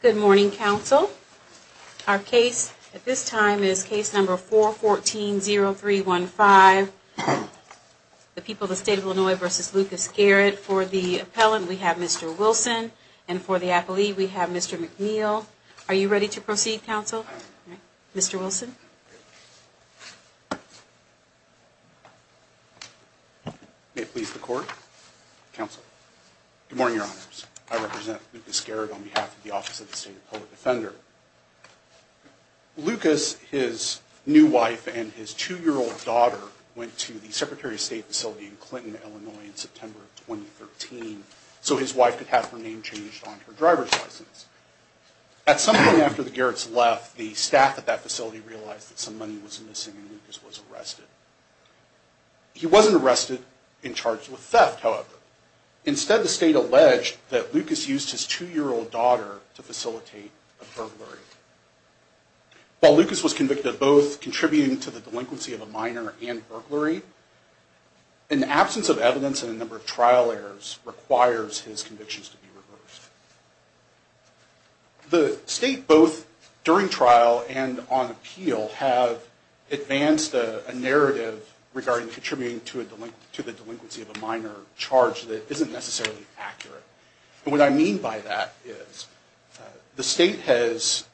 Good morning, Council. Our case at this time is case number 414-0315, the people of the State of Illinois v. Lucas-Garrett. For the appellant, we have Mr. Wilson, and for the appellee, we have Mr. McNeil. Are you ready to proceed, Council? Mr. Wilson? Good morning, Your Honors. I represent Lucas-Garrett on behalf of the Office of the State of Illinois Defender. Lucas, his new wife, and his two-year-old daughter went to the Secretary of State facility in Clinton, Illinois in September of 2013 so his wife could have her name changed on her driver's license. At some point after the Garretts left, the staff at that facility realized that some money was missing and Lucas was arrested. He wasn't arrested and charged with theft, however. Instead, the State alleged that Lucas used his two-year-old daughter to facilitate a burglary. While Lucas was convicted of both contributing to the delinquency of a minor and burglary, an absence of evidence and a number of trial errors requires his convictions to be reversed. The State, both during trial and on appeal, have advanced a narrative regarding contributing to the delinquency of a minor charge that isn't necessarily accurate. What I mean by that is the State has,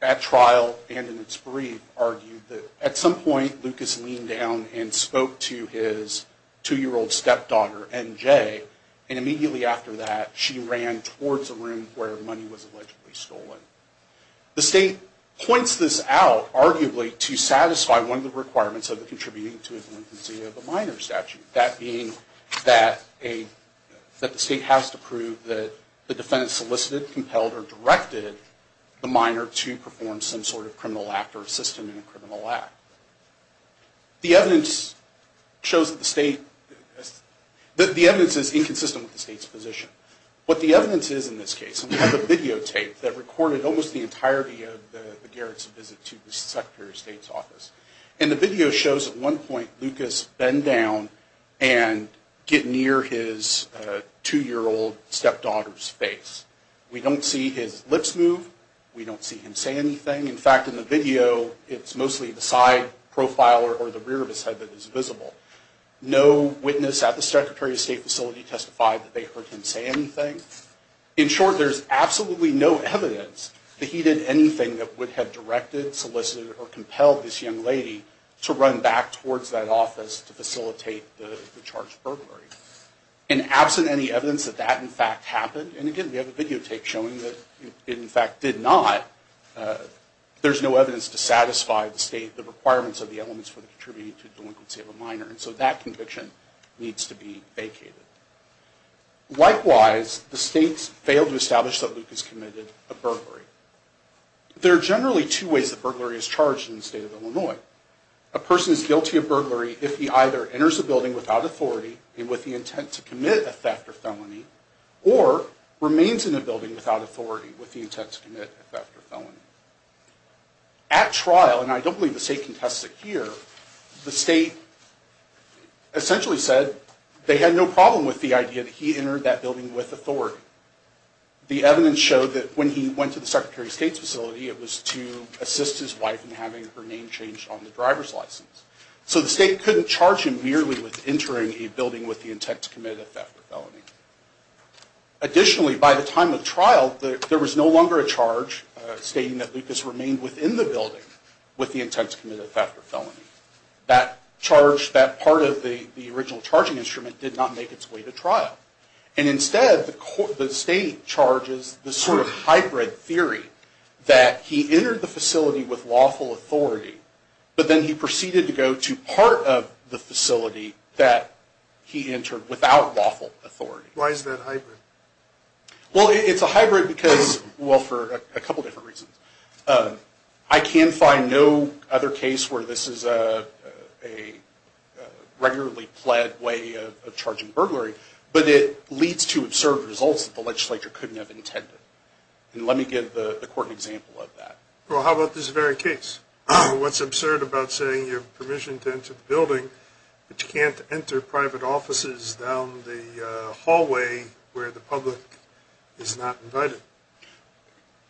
at trial and in its brief, argued that at some point Lucas leaned down and spoke to his two-year-old stepdaughter, N.J., and immediately after that she ran towards a room where money was allegedly stolen. The State points this out, arguably, to satisfy one of the requirements of the contributing to the delinquency of a minor statute. That being that the State has to prove that the defendant solicited, compelled, or directed the minor to perform some sort of criminal act or assistant in a criminal act. The evidence is inconsistent with the State's position. What the evidence is in this case, and we have a videotape that recorded almost the entirety of the Garrett's visit to the Secretary of State's office, and the video shows at one point Lucas bend down and get near his two-year-old stepdaughter's face. We don't see his lips move. We don't see him say anything. In fact, in the video, it's mostly the side profile or the rear of his head that is visible. No witness at the Secretary of State facility testified that they heard him say anything. In short, there's absolutely no evidence that he did anything that would have directed, solicited, or compelled this young lady to run back towards that office to facilitate the charge of burglary. And absent any evidence that that, in fact, happened, and again, we have a videotape showing that it, in fact, did not, there's no evidence to satisfy the State, the requirements of the elements for the contributing to the delinquency of a minor, and so that conviction needs to be vacated. Likewise, the State failed to establish that Lucas committed a burglary. There are generally two ways that burglary is charged in the state of Illinois. A person is guilty of burglary if he either enters a building without authority and with the intent to commit a theft or felony, or remains in a building without authority with the intent to commit a theft or felony. At trial, and I don't believe the State contests it here, the State essentially said they had no problem with the idea that he entered that building with authority. The evidence showed that when he went to the Secretary of State's facility, it was to assist his wife in having her name changed on the driver's license. So the State couldn't charge him merely with entering a building with the intent to commit a theft or felony. Additionally, by the time of trial, there was no longer a charge stating that Lucas remained within the building with the intent to commit a theft or felony. That charge, that part of the original charging instrument did not make its way to trial. And instead, the State charges this sort of hybrid theory that he entered the facility with lawful authority, but then he proceeded to go to part of the facility that he entered without lawful authority. Why is that hybrid?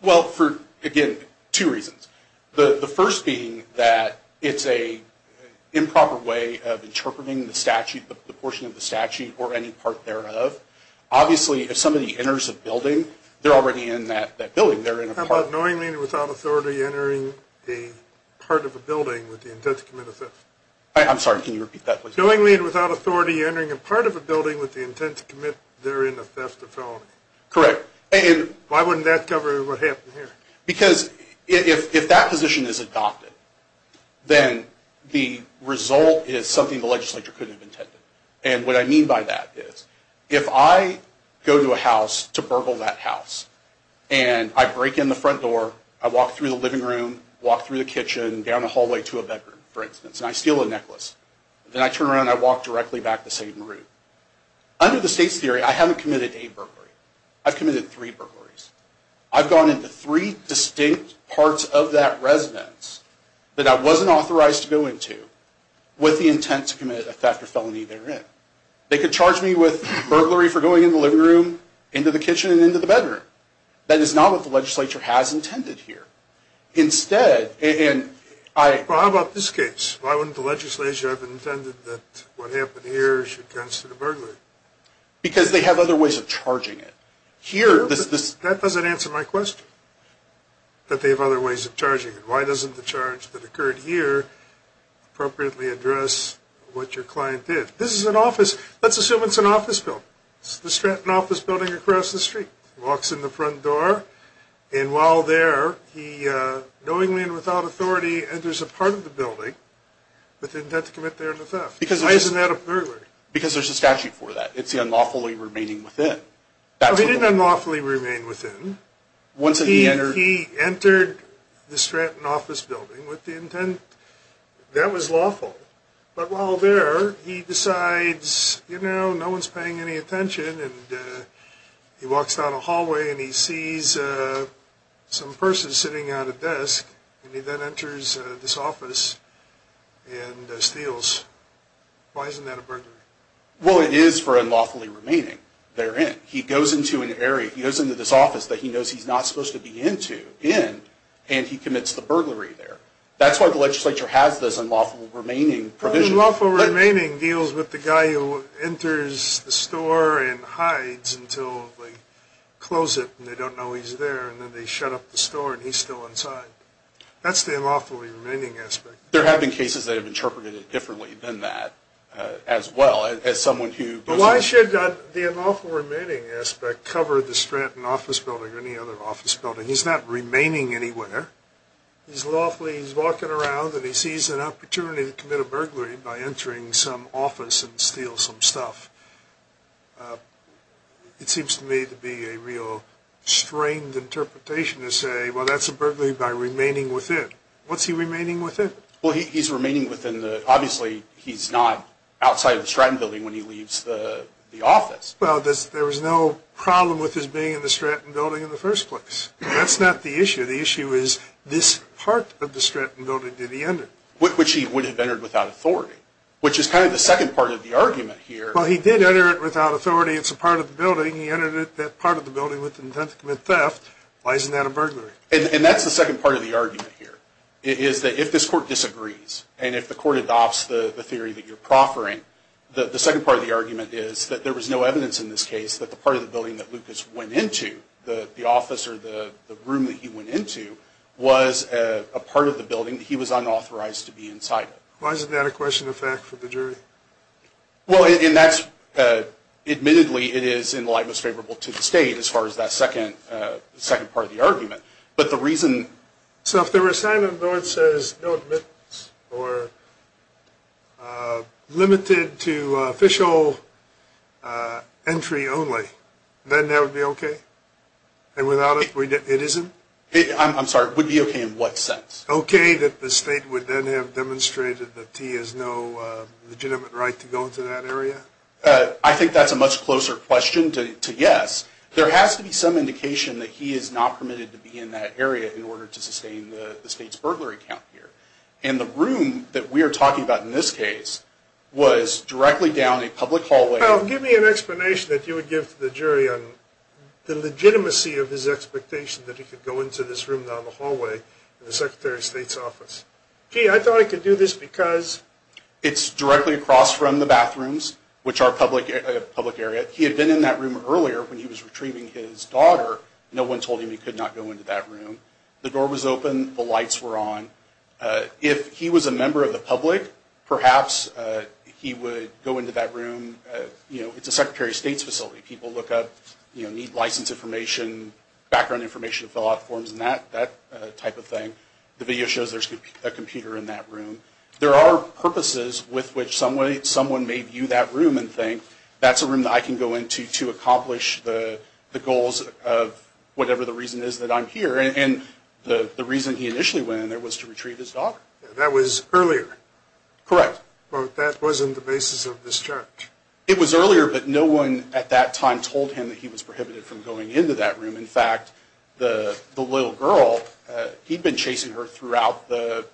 Well, for, again, two reasons. The first being that it's an improper way of interpreting the statute, the portion of the statute, or any part thereof. Obviously, if somebody enters a building, they're already in that building. How about knowingly and without authority entering a part of a building with the intent to commit a theft? Correct. Why wouldn't that cover what happened here? Because if that position is adopted, then the result is something the legislature couldn't have intended. And what I mean by that is, if I go to a house to burgle that house, and I break in the front door, I walk through the living room, walk through the kitchen, down the hallway to a bedroom, for instance, and I steal a necklace. Then I turn around and I walk directly back the same route. Under the State's theory, I haven't committed a burglary. I've committed three burglaries. I've gone into three distinct parts of that residence that I wasn't authorized to go into with the intent to commit a theft or felony therein. They could charge me with burglary for going into the living room, into the kitchen, and into the bedroom. That is not what the legislature has intended here. Well, how about this case? Why wouldn't the legislature have intended that what happened here should constitute a burglary? Because they have other ways of charging it. That doesn't answer my question, that they have other ways of charging it. Why doesn't the charge that occurred here appropriately address what your client did? Let's assume it's an office building. It's the Stratton office building across the street. He walks in the front door, and while there, knowingly and without authority, enters a part of the building with the intent to commit therein a theft. Why isn't that a burglary? Because there's a statute for that. It's the unlawfully remaining within. He didn't unlawfully remain within. He entered the Stratton office building with the intent. That was lawful. But while there, he decides, you know, no one's paying any attention, and he walks down a hallway and he sees some person sitting at a desk, and he then enters this office and steals. Why isn't that a burglary? Well, it is for unlawfully remaining therein. He goes into an area, he goes into this office that he knows he's not supposed to be in, and he commits the burglary there. That's why the legislature has this unlawful remaining provision. Unlawful remaining deals with the guy who enters the store and hides until they close it and they don't know he's there, and then they shut up the store and he's still inside. That's the unlawfully remaining aspect. There have been cases that have interpreted it differently than that, as well, as someone who... But why should the unlawful remaining aspect cover the Stratton office building or any other office building? He's not remaining anywhere. He's lawfully, he's walking around and he sees an opportunity to commit a burglary by entering some office and steal some stuff. It seems to me to be a real strained interpretation to say, well that's a burglary by remaining within. What's he remaining within? Well, he's remaining within the, obviously he's not outside of the Stratton building when he leaves the office. Well, there was no problem with his being in the Stratton building in the first place. That's not the issue. The issue is this part of the Stratton building did he enter? Which he would have entered without authority, which is kind of the second part of the argument here. Well, he did enter it without authority. It's a part of the building. He entered that part of the building with intent to commit theft. Why isn't that a burglary? And that's the second part of the argument here, is that if this court disagrees and if the court adopts the theory that you're proffering, the second part of the argument is that there was no evidence in this case that the part of the building that Lucas went into, the office or the room that he went into, was a part of the building. He was unauthorized to be inside it. Why isn't that a question of fact for the jury? Well, and that's, admittedly, it is in the light most favorable to the state as far as that second part of the argument. But the reason... So if the recital of the Lord says no admittance or limited to official entry only, then that would be okay? And without it, it isn't? I'm sorry, it would be okay in what sense? Okay that the state would then have demonstrated that he has no legitimate right to go into that area? I think that's a much closer question to yes. There has to be some indication that he is not permitted to be in that area in order to sustain the state's burglary count here. And the room that we are talking about in this case was directly down a public hallway... Well, give me an explanation that you would give to the jury on the legitimacy of his expectation that he could go into this room down the hallway in the Secretary of State's office. Gee, I thought he could do this because... It's directly across from the bathrooms, which are a public area. He had been in that room earlier when he was retrieving his daughter. No one told him he could not go into that room. The door was open, the lights were on. If he was a member of the public, perhaps he would go into that room. You know, it's a Secretary of State's facility. People look up, you know, need license information, background information, fill out forms and that type of thing. The video shows there's a computer in that room. There are purposes with which someone may view that room and think, that's a room that I can go into to accomplish the goals of whatever the reason is that I'm here. And the reason he initially went in there was to retrieve his daughter. That was earlier. Correct. But that wasn't the basis of this charge. It was earlier, but no one at that time told him that he was prohibited from going into that room. In fact, the little girl, he'd been chasing her throughout the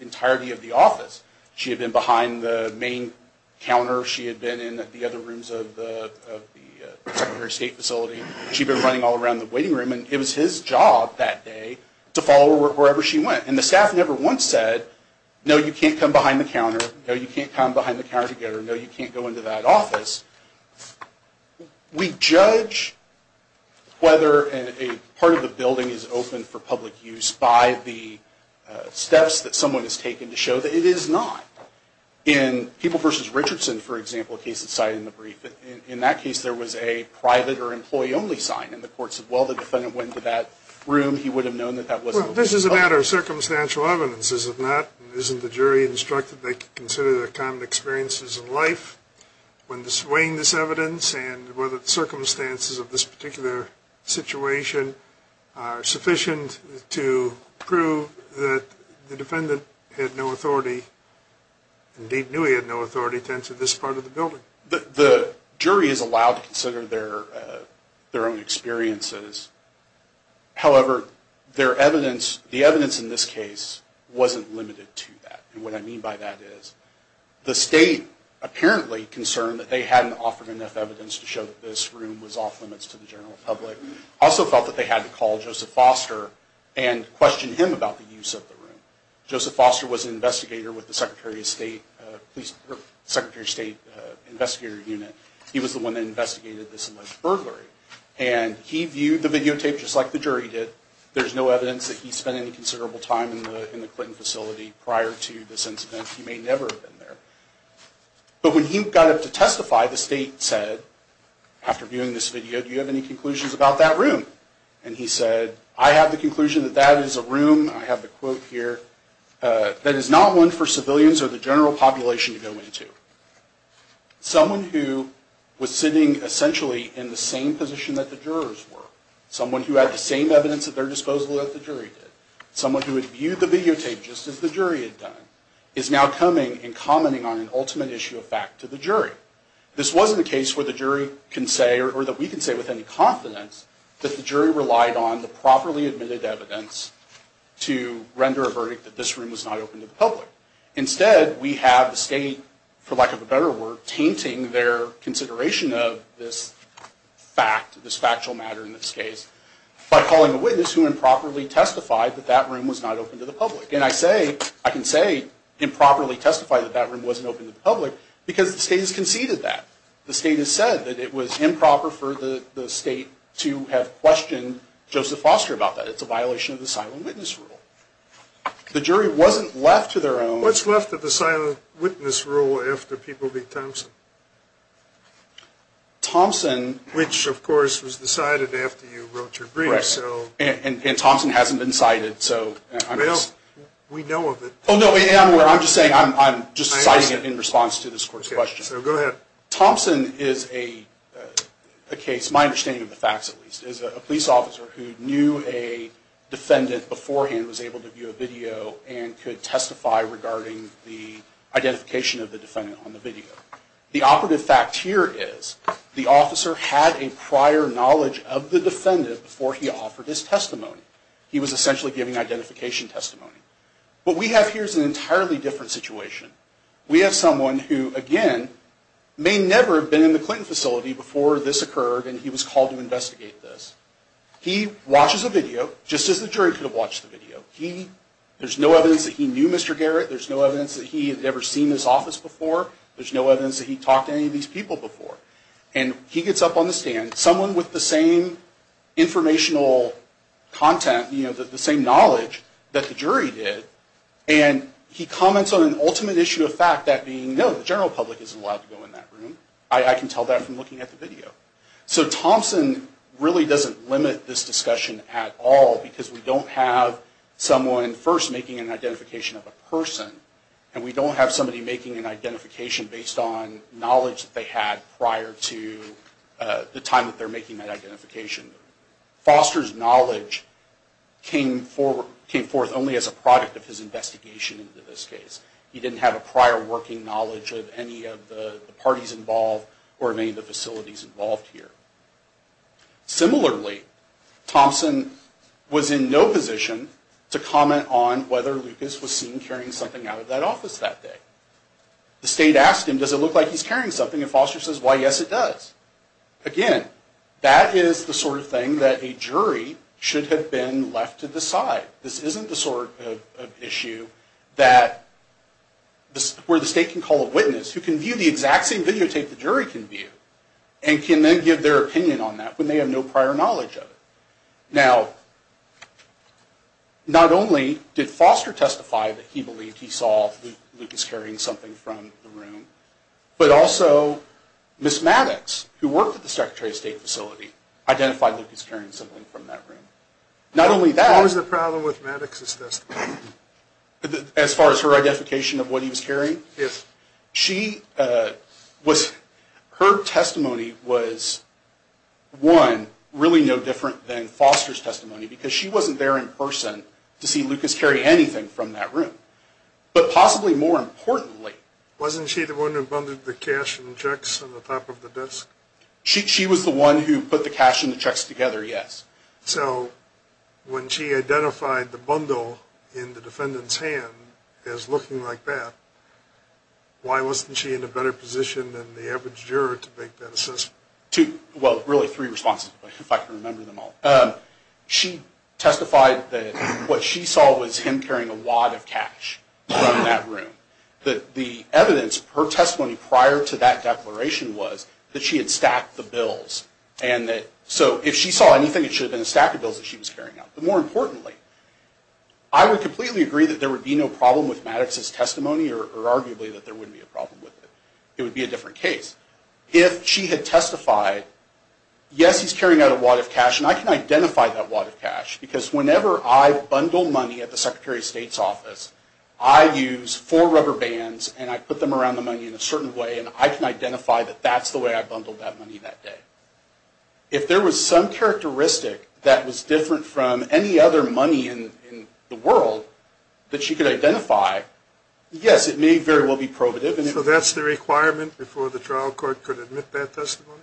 entirety of the office. She had been behind the main counter. She had been in the other rooms of the Secretary of State facility. She'd been running all around the waiting room, and it was his job that day to follow her wherever she went. And the staff never once said, no, you can't come behind the counter. No, you can't come behind the counter to get her. No, you can't go into that office. We judge whether a part of the building is open for public use by the steps that someone has taken to show that it is not. In People v. Richardson, for example, a case that's cited in the brief, in that case there was a private or employee-only sign, and the court said, well, the defendant went into that room. He would have known that that wasn't open for public use. Well, this is a matter of circumstantial evidence, isn't it? Isn't the jury instructed they can consider their common experiences in life when displaying this evidence, and whether the circumstances of this particular situation are sufficient to prove that the defendant had no authority, indeed knew he had no authority, to enter this part of the building? The jury is allowed to consider their own experiences. However, the evidence in this case wasn't limited to that, and what I mean by that is, the state apparently concerned that they hadn't offered enough evidence to show that this room was off-limits to the general public, also felt that they had to call Joseph Foster and question him about the use of the room. Joseph Foster was an investigator with the Secretary of State Investigator Unit. He was the one that investigated this alleged burglary, and he viewed the videotape just like the jury did. There's no evidence that he spent any considerable time in the Clinton facility prior to this incident. He may never have been there. But when he got up to testify, the state said, after viewing this video, do you have any conclusions about that room? And he said, I have the conclusion that that is a room. I have the quote here, that is not one for civilians or the general population to go into. Someone who was sitting essentially in the same position that the jurors were, someone who had the same evidence at their disposal that the jury did, someone who had viewed the videotape just as the jury had done, is now coming and commenting on an ultimate issue of fact to the jury. This wasn't a case where the jury can say, or that we can say with any confidence, that the jury relied on the properly admitted evidence to render a verdict that this room was not open to the public. Instead, we have the state, for lack of a better word, tainting their consideration of this fact, this factual matter in this case, by calling a witness who improperly testified that that room was not open to the public. And I say, I can say improperly testified that that room wasn't open to the public, because the state has conceded that. The state has said that it was improper for the state to have questioned Joseph Foster about that. It's a violation of the silent witness rule. The jury wasn't left to their own... What's left of the silent witness rule after people beat Thompson? Thompson... Which, of course, was decided after you wrote your brief, so... And Thompson hasn't been cited, so... Well, we know of it. Oh, no, I'm just saying, I'm just citing it in response to this court's question. So, go ahead. Thompson is a case, my understanding of the facts at least, is a police officer who knew a defendant beforehand, was able to view a video, and could testify regarding the identification of the defendant on the video. The operative fact here is the officer had a prior knowledge of the defendant before he offered his testimony. He was essentially giving identification testimony. What we have here is an entirely different situation. We have someone who, again, may never have been in the Clinton facility before this occurred and he was called to investigate this. He watches a video, just as the jury could have watched the video. There's no evidence that he knew Mr. Garrett, there's no evidence that he had ever seen his office before, there's no evidence that he talked to any of these people before. And he gets up on the stand, someone with the same informational content, you know, the same knowledge that the jury did, and he comments on an ultimate issue of fact that being, no, the general public isn't allowed to go in that room. I can tell that from looking at the video. So, Thompson really doesn't limit this discussion at all because we don't have someone first making an identification of a person, and we don't have somebody making an identification based on knowledge that they had prior to the time that they're making that identification. Foster's knowledge came forth only as a product of his investigation into this case. He didn't have a prior working knowledge of any of the parties involved or any of the facilities involved here. Similarly, Thompson was in no position to comment on whether Lucas was seen carrying something out of that office that day. The state asked him, does it look like he's carrying something, and Foster says, why, yes it does. Again, that is the sort of thing that a jury should have been left to decide. This isn't the sort of issue that, where the state can call a witness who can view the exact same videotape the jury can view and can then give their opinion on that when they have no prior knowledge of it. Now, not only did Foster testify that he believed he saw Lucas carrying something from the room, but also Miss Maddox, who worked at the Secretary of State facility, identified Lucas carrying something from that room. Not only that... What was the problem with Maddox's testimony? As far as her identification of what he was carrying? Yes. Her testimony was, one, really no different than Foster's testimony, because she wasn't there in person to see Lucas carry anything from that room. But possibly more importantly... Wasn't she the one who bundled the cash and checks on the top of the desk? She was the one who put the cash and the checks together, yes. So, when she identified the bundle in the defendant's hand as looking like that, why wasn't she in a better position than the average juror to make that assessment? Well, really three responses, if I can remember them all. She testified that what she saw was him carrying a wad of cash from that room. The evidence, her testimony prior to that declaration was that she had stacked the bills. So, if she saw anything, it should have been a stack of bills that she was carrying out. But more importantly, I would completely agree that there would be no problem with Maddox's testimony, or arguably that there wouldn't be a problem with it. It would be a different case. If she had testified, yes, he's carrying out a wad of cash, and I can identify that wad of cash. Because whenever I bundle money at the Secretary of State's office, I use four rubber bands and I put them around the money in a certain way, and I can identify that that's the way I bundled that money that day. If there was some characteristic that was different from any other money in the world that she could identify, yes, it may very well be probative. So that's the requirement before the trial court could admit that testimony?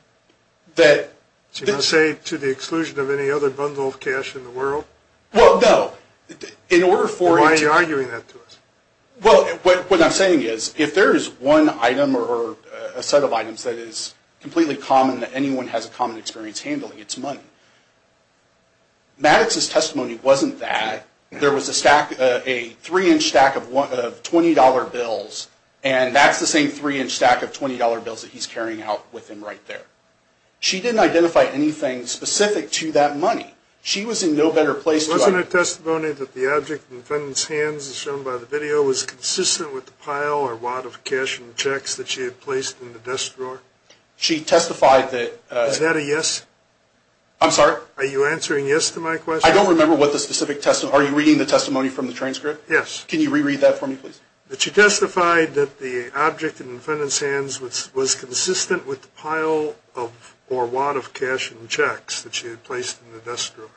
To say to the exclusion of any other bundle of cash in the world? Well, no. Why are you arguing that to us? Well, what I'm saying is if there is one item or a set of items that is completely common that anyone has a common experience handling, it's money. Maddox's testimony wasn't that. There was a three-inch stack of $20 bills, and that's the same three-inch stack of $20 bills that he's carrying out with him right there. She didn't identify anything specific to that money. She was in no better place to identify. Wasn't her testimony that the object in the defendant's hands as shown by the video was consistent with the pile or wad of cash in the checks that she had placed in the desk drawer? She testified that. Is that a yes? I'm sorry? Are you answering yes to my question? I don't remember what the specific testimony. Are you reading the testimony from the transcript? Yes. Can you reread that for me, please? She testified that the object in the defendant's hands was consistent with the pile or wad of cash in the checks that she had placed in the desk drawer.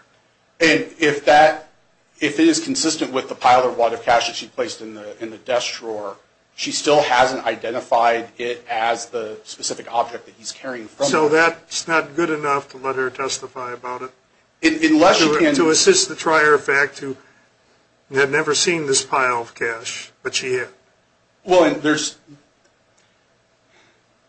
And if it is consistent with the pile or wad of cash that she placed in the desk drawer, she still hasn't identified it as the specific object that he's carrying from her. So that's not good enough to let her testify about it? To assist the trier of fact who had never seen this pile of cash, but she had. Well, there's,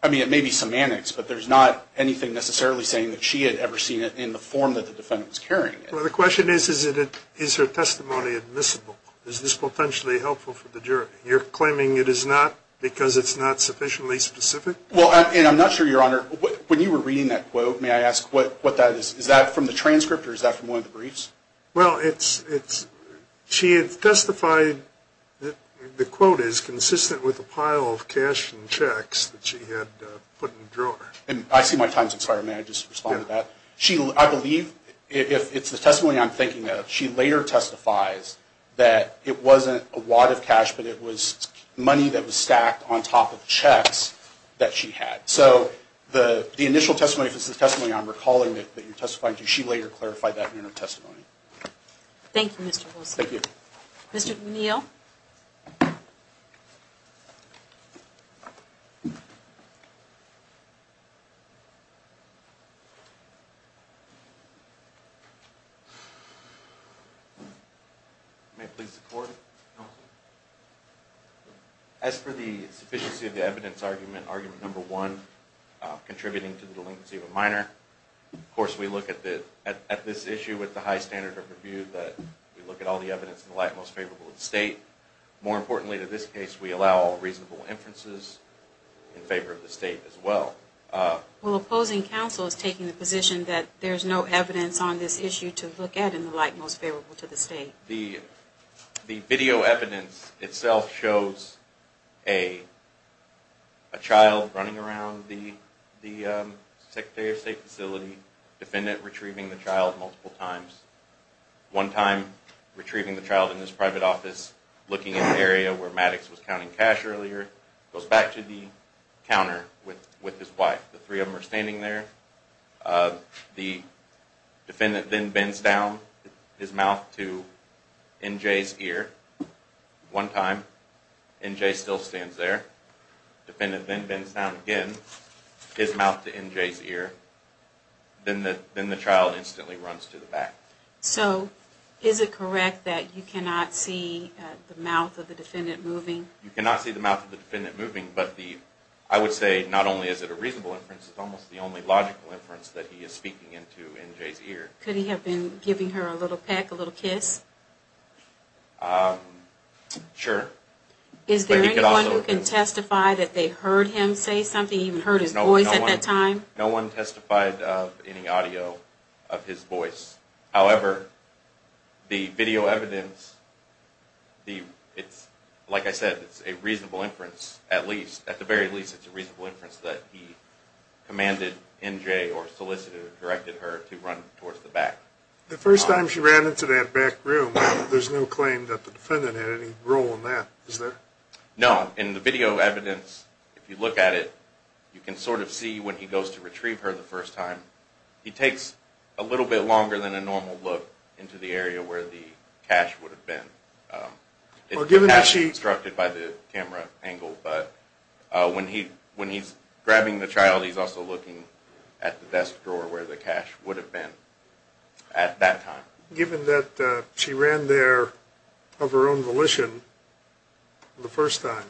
I mean, it may be semantics, but there's not anything necessarily saying that she had ever seen it in the form that the defendant was carrying it. Well, the question is, is her testimony admissible? Is this potentially helpful for the jury? You're claiming it is not because it's not sufficiently specific? Well, and I'm not sure, Your Honor, when you were reading that quote, may I ask what that is? Is that from the transcript or is that from one of the briefs? Well, it's, she had testified that the quote is consistent with the pile of cash in the checks that she had put in the drawer. And I see my time's expired. May I just respond to that? Yeah. She, I believe, if it's the testimony I'm thinking of, she later testifies that it wasn't a wad of cash, but it was money that was stacked on top of checks that she had. So the initial testimony, if it's the testimony I'm recalling that you're testifying to, she later clarified that in her testimony. Thank you, Mr. Hulsey. Thank you. Mr. O'Neill? May it please the Court? Counsel? As for the sufficiency of the evidence argument, argument number one, contributing to the delinquency of a minor, of course we look at this issue with the high standard of review that we look at all the evidence in the light most favorable of the State. More importantly to this case, we allow reasonable inferences in favor of the State as well. Well, opposing counsel is taking the position that there's no evidence on this issue to look at in the light most favorable to the State. The video evidence itself shows a child running around the Secretary of State facility, defendant retrieving the child multiple times. One time, retrieving the child in his private office, looking in the area where Maddox was counting cash earlier, goes back to the counter with his wife. The three of them are standing there. The defendant then bends down his mouth to N.J.'s ear. One time, N.J. still stands there. Defendant then bends down again, his mouth to N.J.'s ear. Then the child instantly runs to the back. So, is it correct that you cannot see the mouth of the defendant moving? You cannot see the mouth of the defendant moving, but I would say not only is it a reasonable inference, it's almost the only logical inference that he is speaking into N.J.'s ear. Could he have been giving her a little peck, a little kiss? Sure. Is there anyone who can testify that they heard him say something, even heard his voice at that time? No one testified of any audio of his voice. However, the video evidence, like I said, it's a reasonable inference at least. It's a reasonable inference that he commanded N.J. or solicited or directed her to run towards the back. The first time she ran into that back room, there's no claim that the defendant had any role in that, is there? No. In the video evidence, if you look at it, you can sort of see when he goes to retrieve her the first time, he takes a little bit longer than a normal look into the area where the cash would have been. It's not constructed by the camera angle, but when he's grabbing the child, he's also looking at the desk drawer where the cash would have been at that time. Given that she ran there of her own volition the first time,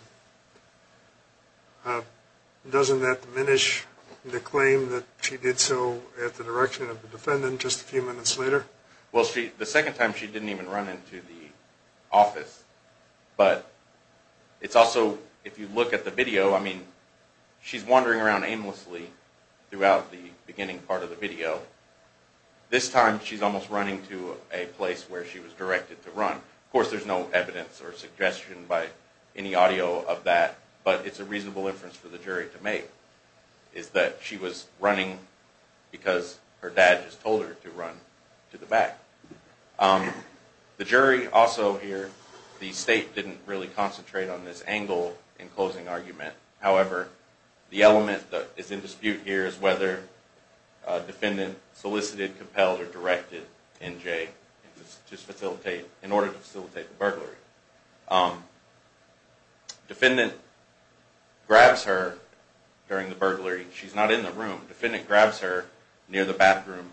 doesn't that diminish the claim that she did so at the direction of the defendant just a few minutes later? Well, the second time she didn't even run into the office, but it's also, if you look at the video, I mean, she's wandering around aimlessly throughout the beginning part of the video. This time, she's almost running to a place where she was directed to run. Of course, there's no evidence or suggestion by any audio of that, but it's a reasonable inference for the jury to make, is that she was running because her dad just told her to run to the back. The jury also here, the state didn't really concentrate on this angle in closing argument. However, the element that is in dispute here is whether the defendant solicited, compelled, or directed NJ in order to facilitate the burglary. Defendant grabs her during the burglary. She's not in the room. Defendant grabs her near the bathroom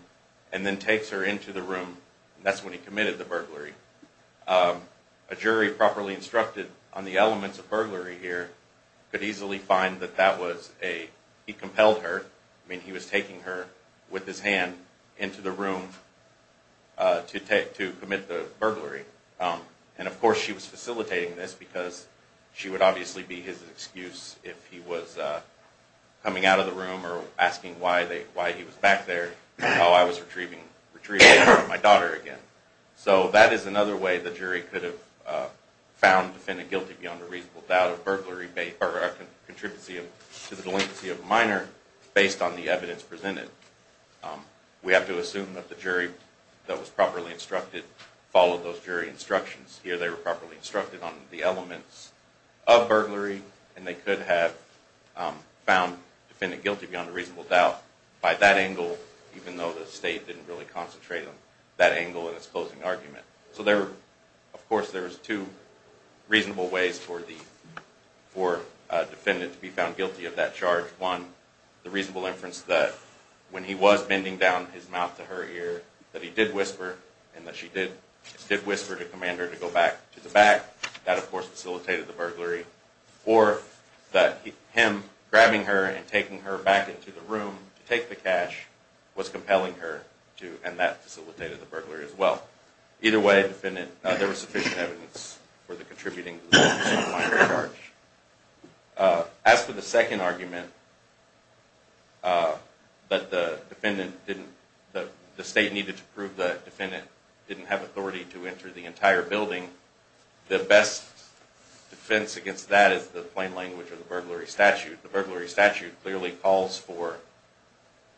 and then takes her into the room. That's when he committed the burglary. A jury properly instructed on the elements of burglary here could easily find that he compelled her. I mean, he was taking her with his hand into the room to commit the burglary. Of course, she was facilitating this because she would obviously be his excuse if he was coming out of the room or asking why he was back there while I was retrieving my daughter again. That is another way the jury could have found defendant guilty beyond a reasonable doubt of burglary or a contribution to the delinquency of a minor based on the evidence presented. We have to assume that the jury that was properly instructed followed those jury instructions. Here they were properly instructed on the elements of burglary and they could have found defendant guilty beyond a reasonable doubt by that angle even though the state didn't really concentrate on that angle in its closing argument. Of course, there's two reasonable ways for a defendant to be found guilty of that charge. One, the reasonable inference that when he was bending down his mouth to her ear that he did whisper and that she did whisper to command her to go back to the back. That of course facilitated the burglary. Or that him grabbing her and taking her back into the room to take the cash was compelling her and that facilitated the burglary as well. Either way, defendant, there was sufficient evidence for the contributing to the delinquency of a minor charge. As for the second argument that the defendant didn't, the state needed to prove the defendant didn't have authority to enter the entire building, the best defense against that is the plain language of the burglary statute. The burglary statute clearly calls for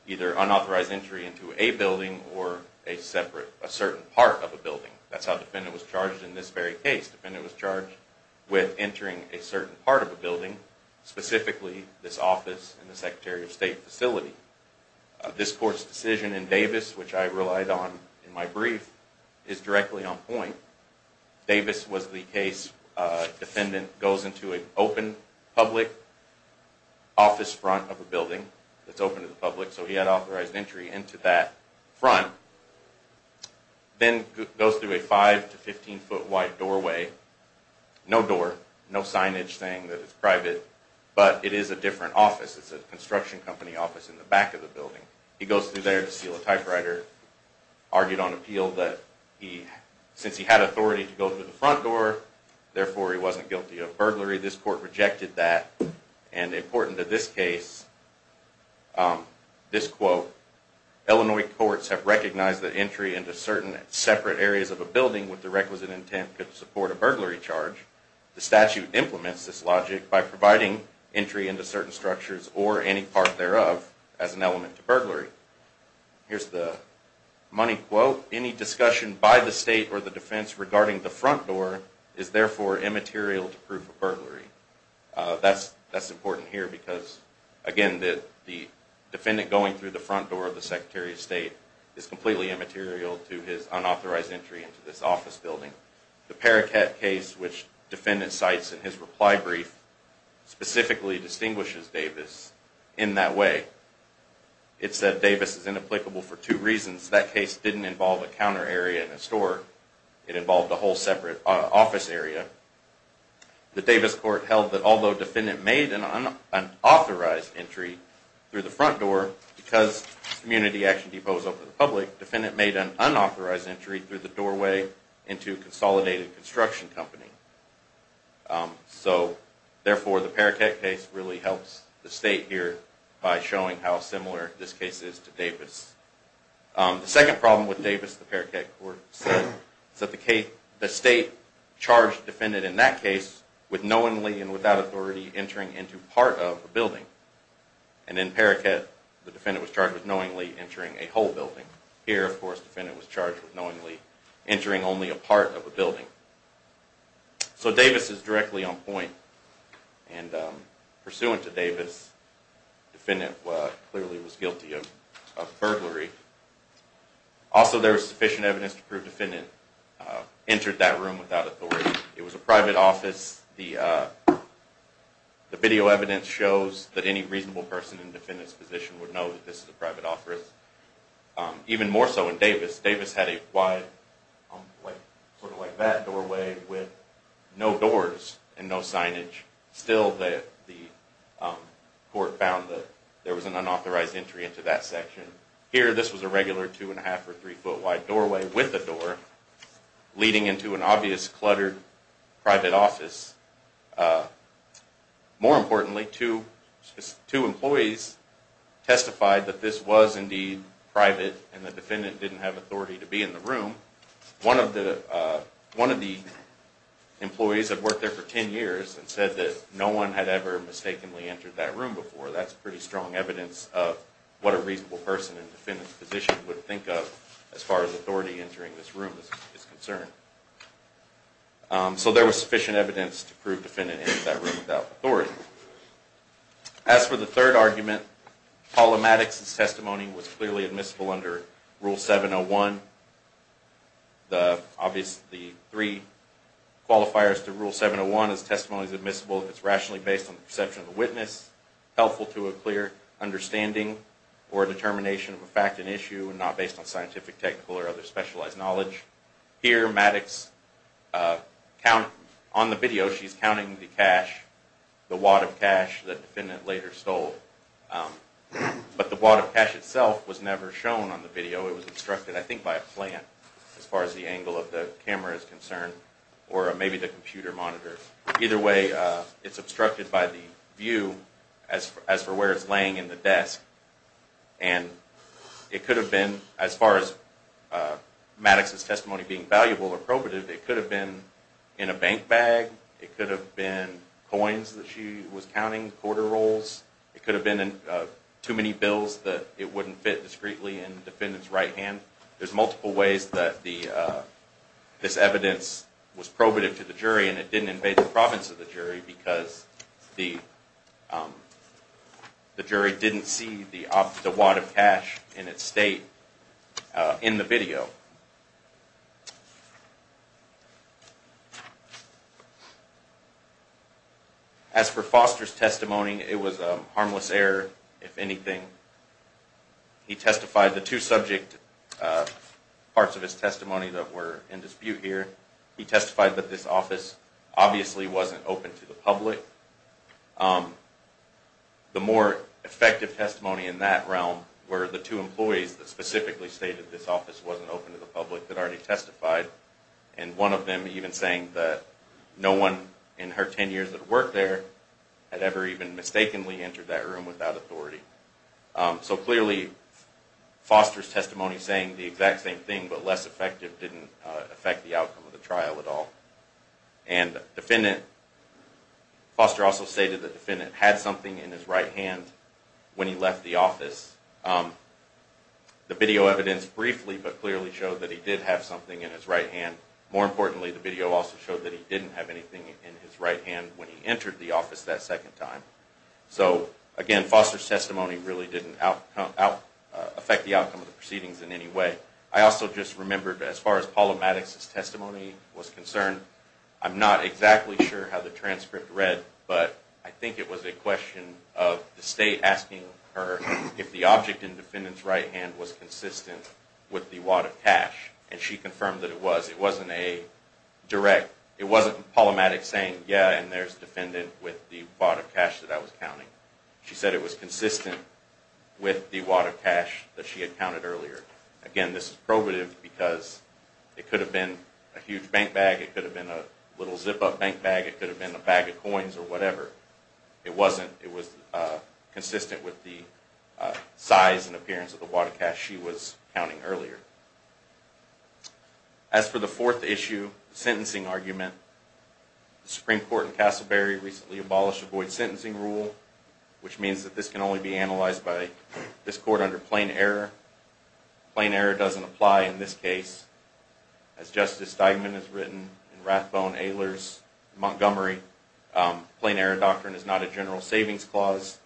either unauthorized entry into a building or a separate, a certain part of a building. That's how defendant was charged in this very case. Defendant was charged with entering a certain part of a building, specifically this office and the Secretary of State facility. This court's decision in Davis, which I relied on in my brief, is directly on point. Davis was the case. Defendant goes into an open public office front of a building that's open to the public, so he had authorized entry into that front. Then goes through a 5 to 15 foot wide doorway. No door, no signage saying that it's private, but it is a different office. It's a construction company office in the back of the building. He goes through there to steal a typewriter, argued on appeal that since he had authority to go through the front door, therefore he wasn't guilty of burglary. This court rejected that and important to this case, this quote, Illinois courts have recognized that entry into certain separate areas of a building with the requisite intent could support a burglary charge. The statute implements this logic by providing entry into certain structures or any part thereof as an element to burglary. Here's the money quote, any discussion by the state or the defense regarding the front door is therefore immaterial to proof of burglary. That's important here because, again, the defendant going through the front door of the Secretary of State is completely immaterial to his unauthorized entry into this office building. The Paraket case, which defendant cites in his reply brief, specifically distinguishes Davis in that way. It said Davis is inapplicable for two reasons. That case didn't involve a counter area and a store. It involved a whole separate office area. The Davis court held that although defendant made an unauthorized entry through the front door because Community Action Depot is open to the public, defendant made an unauthorized entry through the doorway into Consolidated Construction Company. So, therefore, the Paraket case really helps the state here by showing how similar this case is to Davis. The second problem with Davis, the Paraket court said, the state charged defendant in that case with knowingly and without authority entering into part of a building. And in Paraket, the defendant was charged with knowingly entering a whole building. Here, of course, defendant was charged with knowingly entering only a part of a building. So Davis is directly on point. And pursuant to Davis, defendant clearly was guilty of burglary. Also, there was sufficient evidence to prove defendant entered that room without authority. It was a private office. The video evidence shows that any reasonable person in defendant's position would know that this is a private office. Even more so in Davis. Davis had a wide, sort of like that doorway with no doors and no signage. Still, the court found that there was an unauthorized entry into that section. Here, this was a regular two-and-a-half or three-foot wide doorway with a door, leading into an obvious cluttered private office. More importantly, two employees testified that this was indeed private and the defendant didn't have authority to be in the room. One of the employees had worked there for 10 years and said that no one had ever mistakenly entered that room before. That's pretty strong evidence of what a reasonable person in defendant's position would think of as far as authority entering this room is concerned. So there was sufficient evidence to prove defendant entered that room without authority. As for the third argument, Paula Maddox's testimony was clearly admissible under Rule 701. The three qualifiers to Rule 701 is testimony is admissible and is helpful to a clear understanding or determination of a fact and issue and not based on scientific, technical, or other specialized knowledge. Here, Maddox, on the video, she's counting the cash, the wad of cash that the defendant later stole. But the wad of cash itself was never shown on the video. It was obstructed, I think, by a plant as far as the angle of the camera is concerned or maybe the computer monitor. Either way, it's obstructed by the view as for where it's laying in the desk. And it could have been, as far as Maddox's testimony being valuable or probative, it could have been in a bank bag. It could have been coins that she was counting, quarter rolls. It could have been too many bills that it wouldn't fit discreetly in the defendant's right hand. There's multiple ways that this evidence was probative to the jury and it didn't invade the province of the jury because the jury didn't see the wad of cash in its state in the video. As for Foster's testimony, it was a harmless error, if anything. He testified the two subject parts of his testimony that were in dispute here. He testified that this office obviously wasn't open to the public. The more effective testimony in that realm were the two employees that specifically stated this office wasn't open to the public that already testified and one of them even saying that no one in her 10 years of work there had ever even mistakenly entered that room without authority. So clearly, Foster's testimony saying the exact same thing but less effective didn't affect the outcome of the trial at all. Foster also stated the defendant had something in his right hand when he left the office. The video evidence briefly but clearly showed that he did have something in his right hand. More importantly, the video also showed that he didn't have anything in his right hand when he entered the office that second time. Again, Foster's testimony really didn't affect the outcome of the proceedings in any way. I also just remembered as far as Paula Maddox's testimony was concerned, I'm not exactly sure how the transcript read, but I think it was a question of the state asking her if the object in the defendant's right hand was consistent with the wad of cash. And she confirmed that it was. It wasn't a direct, it wasn't Paula Maddox saying, yeah, and there's the defendant with the wad of cash that I was counting. She said it was consistent with the wad of cash that she had counted earlier. Again, this is probative because it could have been a huge bank bag. It could have been a little zip-up bank bag. It could have been a bag of coins or whatever. It wasn't. It was consistent with the size and appearance of the wad of cash she was counting earlier. As for the fourth issue, the sentencing argument, the Supreme Court in Casselberry recently abolished the void sentencing rule, which means that this can only be analyzed by this court under plain error. Plain error doesn't apply in this case. As Justice Steigman has written in Rathbone, Ehlers, Montgomery, plain error doctrine is not a general savings clause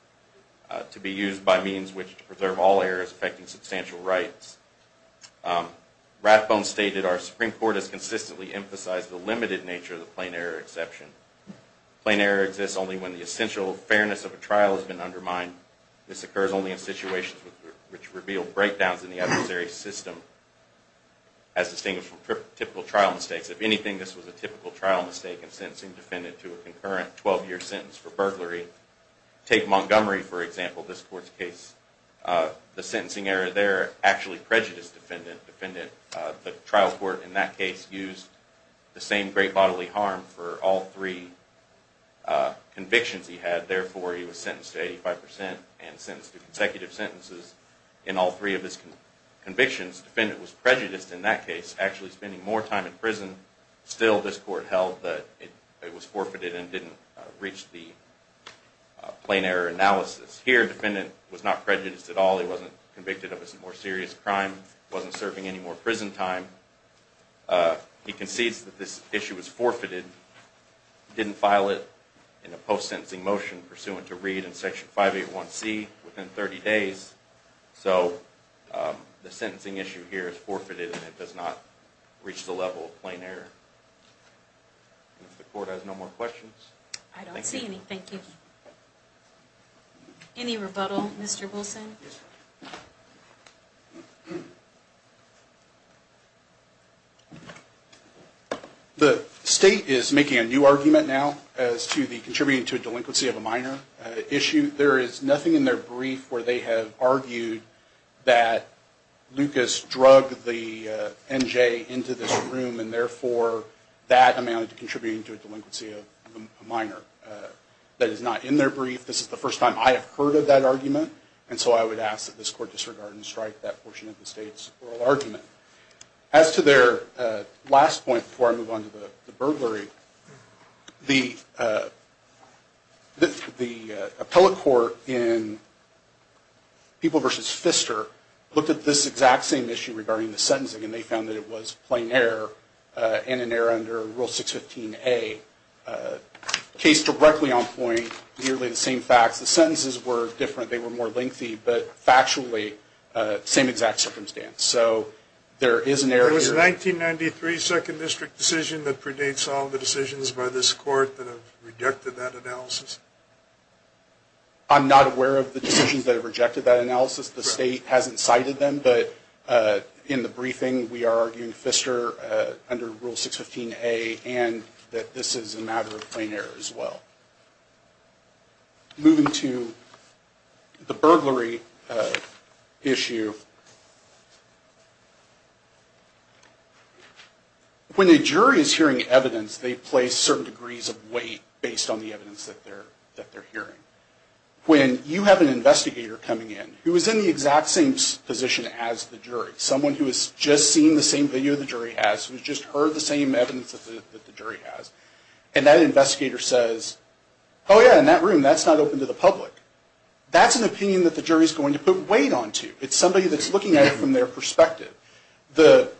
to be used by means which preserve all errors affecting substantial rights. Rathbone stated, Our Supreme Court has consistently emphasized the limited nature of the plain error exception. Plain error exists only when the essential fairness of a trial has been undermined. This occurs only in situations which reveal breakdowns in the adversary's system, as distinguished from typical trial mistakes. If anything, this was a typical trial mistake in sentencing a defendant to a concurrent 12-year sentence for burglary. Take Montgomery, for example, this court's case. The sentencing error there actually prejudiced the defendant. The trial court in that case used the same great bodily harm for all three convictions he had. Therefore, he was sentenced to 85% and sentenced to consecutive sentences in all three of his convictions. The defendant was prejudiced in that case, actually spending more time in prison. Still, this court held that it was forfeited and didn't reach the plain error analysis. Here, the defendant was not prejudiced at all. He wasn't convicted of a more serious crime. He wasn't serving any more prison time. He concedes that this issue was forfeited. He didn't file it in a post-sentencing motion pursuant to read in Section 581C within 30 days. So, the sentencing issue here is forfeited and it does not reach the level of plain error. If the court has no more questions. I don't see any. Thank you. Any rebuttal, Mr. Wilson? Yes, ma'am. The state is making a new argument now as to the contributing to a delinquency of a minor issue. There is nothing in their brief where they have argued that Lucas drug the NJ into this room and therefore that amounted to contributing to a delinquency of a minor. That is not in their brief. This is the first time I have heard of that argument, and so I would ask that this court disregard and strike that portion of the state's oral argument. As to their last point before I move on to the burglary, the appellate court in People v. Pfister looked at this exact same issue regarding the sentencing and they found that it was plain error and an error under Rule 615A, case directly on point, nearly the same facts. The sentences were different. They were more lengthy, but factually, same exact circumstance. So there is an error here. It was a 1993 Second District decision that predates all of the decisions by this court that have rejected that analysis? I'm not aware of the decisions that have rejected that analysis. The state hasn't cited them, but in the briefing, we are arguing Pfister under Rule 615A and that this is a matter of plain error as well. Moving to the burglary issue, when a jury is hearing evidence, they place certain degrees of weight based on the evidence that they're hearing. When you have an investigator coming in who is in the exact same position as the jury, someone who has just seen the same video the jury has, who has just heard the same evidence that the jury has, and that investigator says, oh yeah, in that room, that's not open to the public. That's an opinion that the jury is going to put weight onto. It's somebody that's looking at it from their perspective. The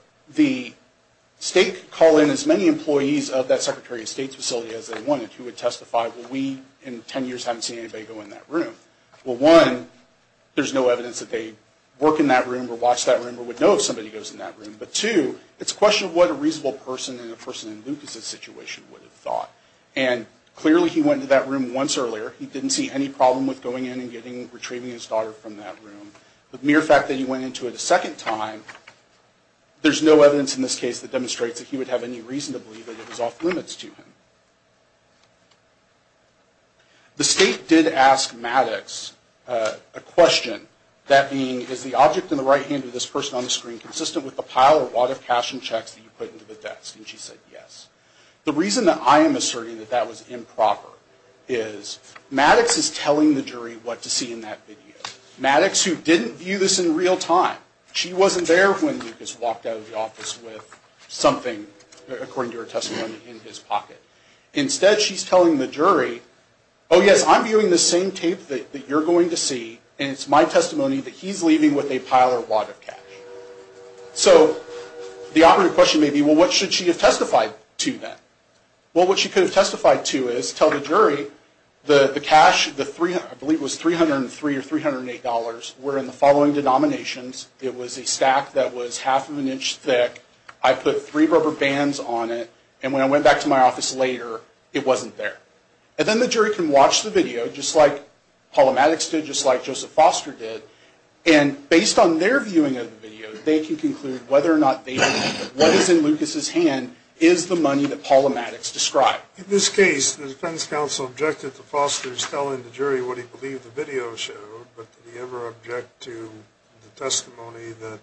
state could call in as many employees of that Secretary of State's facility as they wanted who would testify, well, we in 10 years haven't seen anybody go in that room. Well, one, there's no evidence that they work in that room or watch that room or would know if somebody goes in that room. But two, it's a question of what a reasonable person in a person in Lucas' situation would have thought. And clearly he went into that room once earlier. He didn't see any problem with going in and retrieving his daughter from that room. The mere fact that he went into it a second time, there's no evidence in this case that demonstrates that he would have any reason to believe that it was off limits to him. The state did ask Maddox a question. That being, is the object in the right hand of this person on the screen consistent with the pile or wad of cash and checks that you put into the desk? And she said yes. The reason that I am asserting that that was improper is Maddox is telling the jury what to see in that video. Maddox, who didn't view this in real time, she wasn't there when Lucas walked out of the office with something, according to her testimony, in his pocket. Instead she's telling the jury, oh yes, I'm viewing the same tape that you're going to see and it's my testimony that he's leaving with a pile or wad of cash. So the operative question may be, well what should she have testified to then? Well what she could have testified to is tell the jury the cash, I believe it was $303 or $308, were in the following denominations. It was a stack that was half of an inch thick. I put three rubber bands on it. And when I went back to my office later, it wasn't there. And then the jury can watch the video, just like Paula Maddox did, just like Joseph Foster did, and based on their viewing of the video, they can conclude whether or not what is in Lucas' hand is the money that Paula Maddox described. In this case, the defense counsel objected to Foster's telling the jury what he believed the video showed, but did he ever object to the testimony that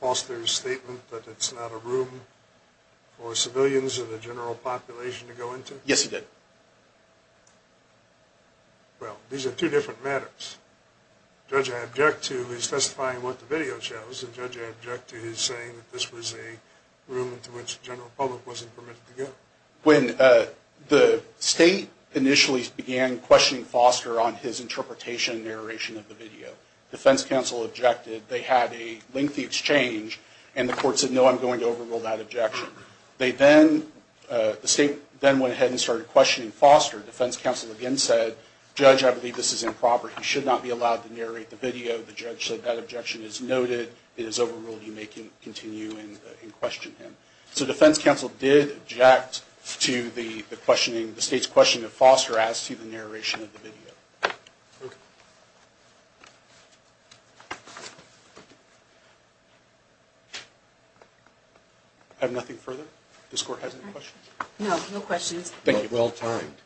Foster's statement that it's not a room for civilians or the general population to go into? Yes, he did. Well, these are two different matters. The judge I object to is testifying what the video shows, and the judge I object to is saying that this was a room into which the general public wasn't permitted to go. When the state initially began questioning Foster on his interpretation and narration of the video, the defense counsel objected they had a lengthy exchange and the court said, no, I'm going to overrule that objection. The state then went ahead and started questioning Foster. Defense counsel again said, judge, I believe this is improper. He should not be allowed to narrate the video. The judge said that objection is noted. It is overruled. You may continue and question him. So defense counsel did object to the state's question of Foster as to the narration of the video. I have nothing further? This court has any questions? No, no questions. Thank you. Well timed.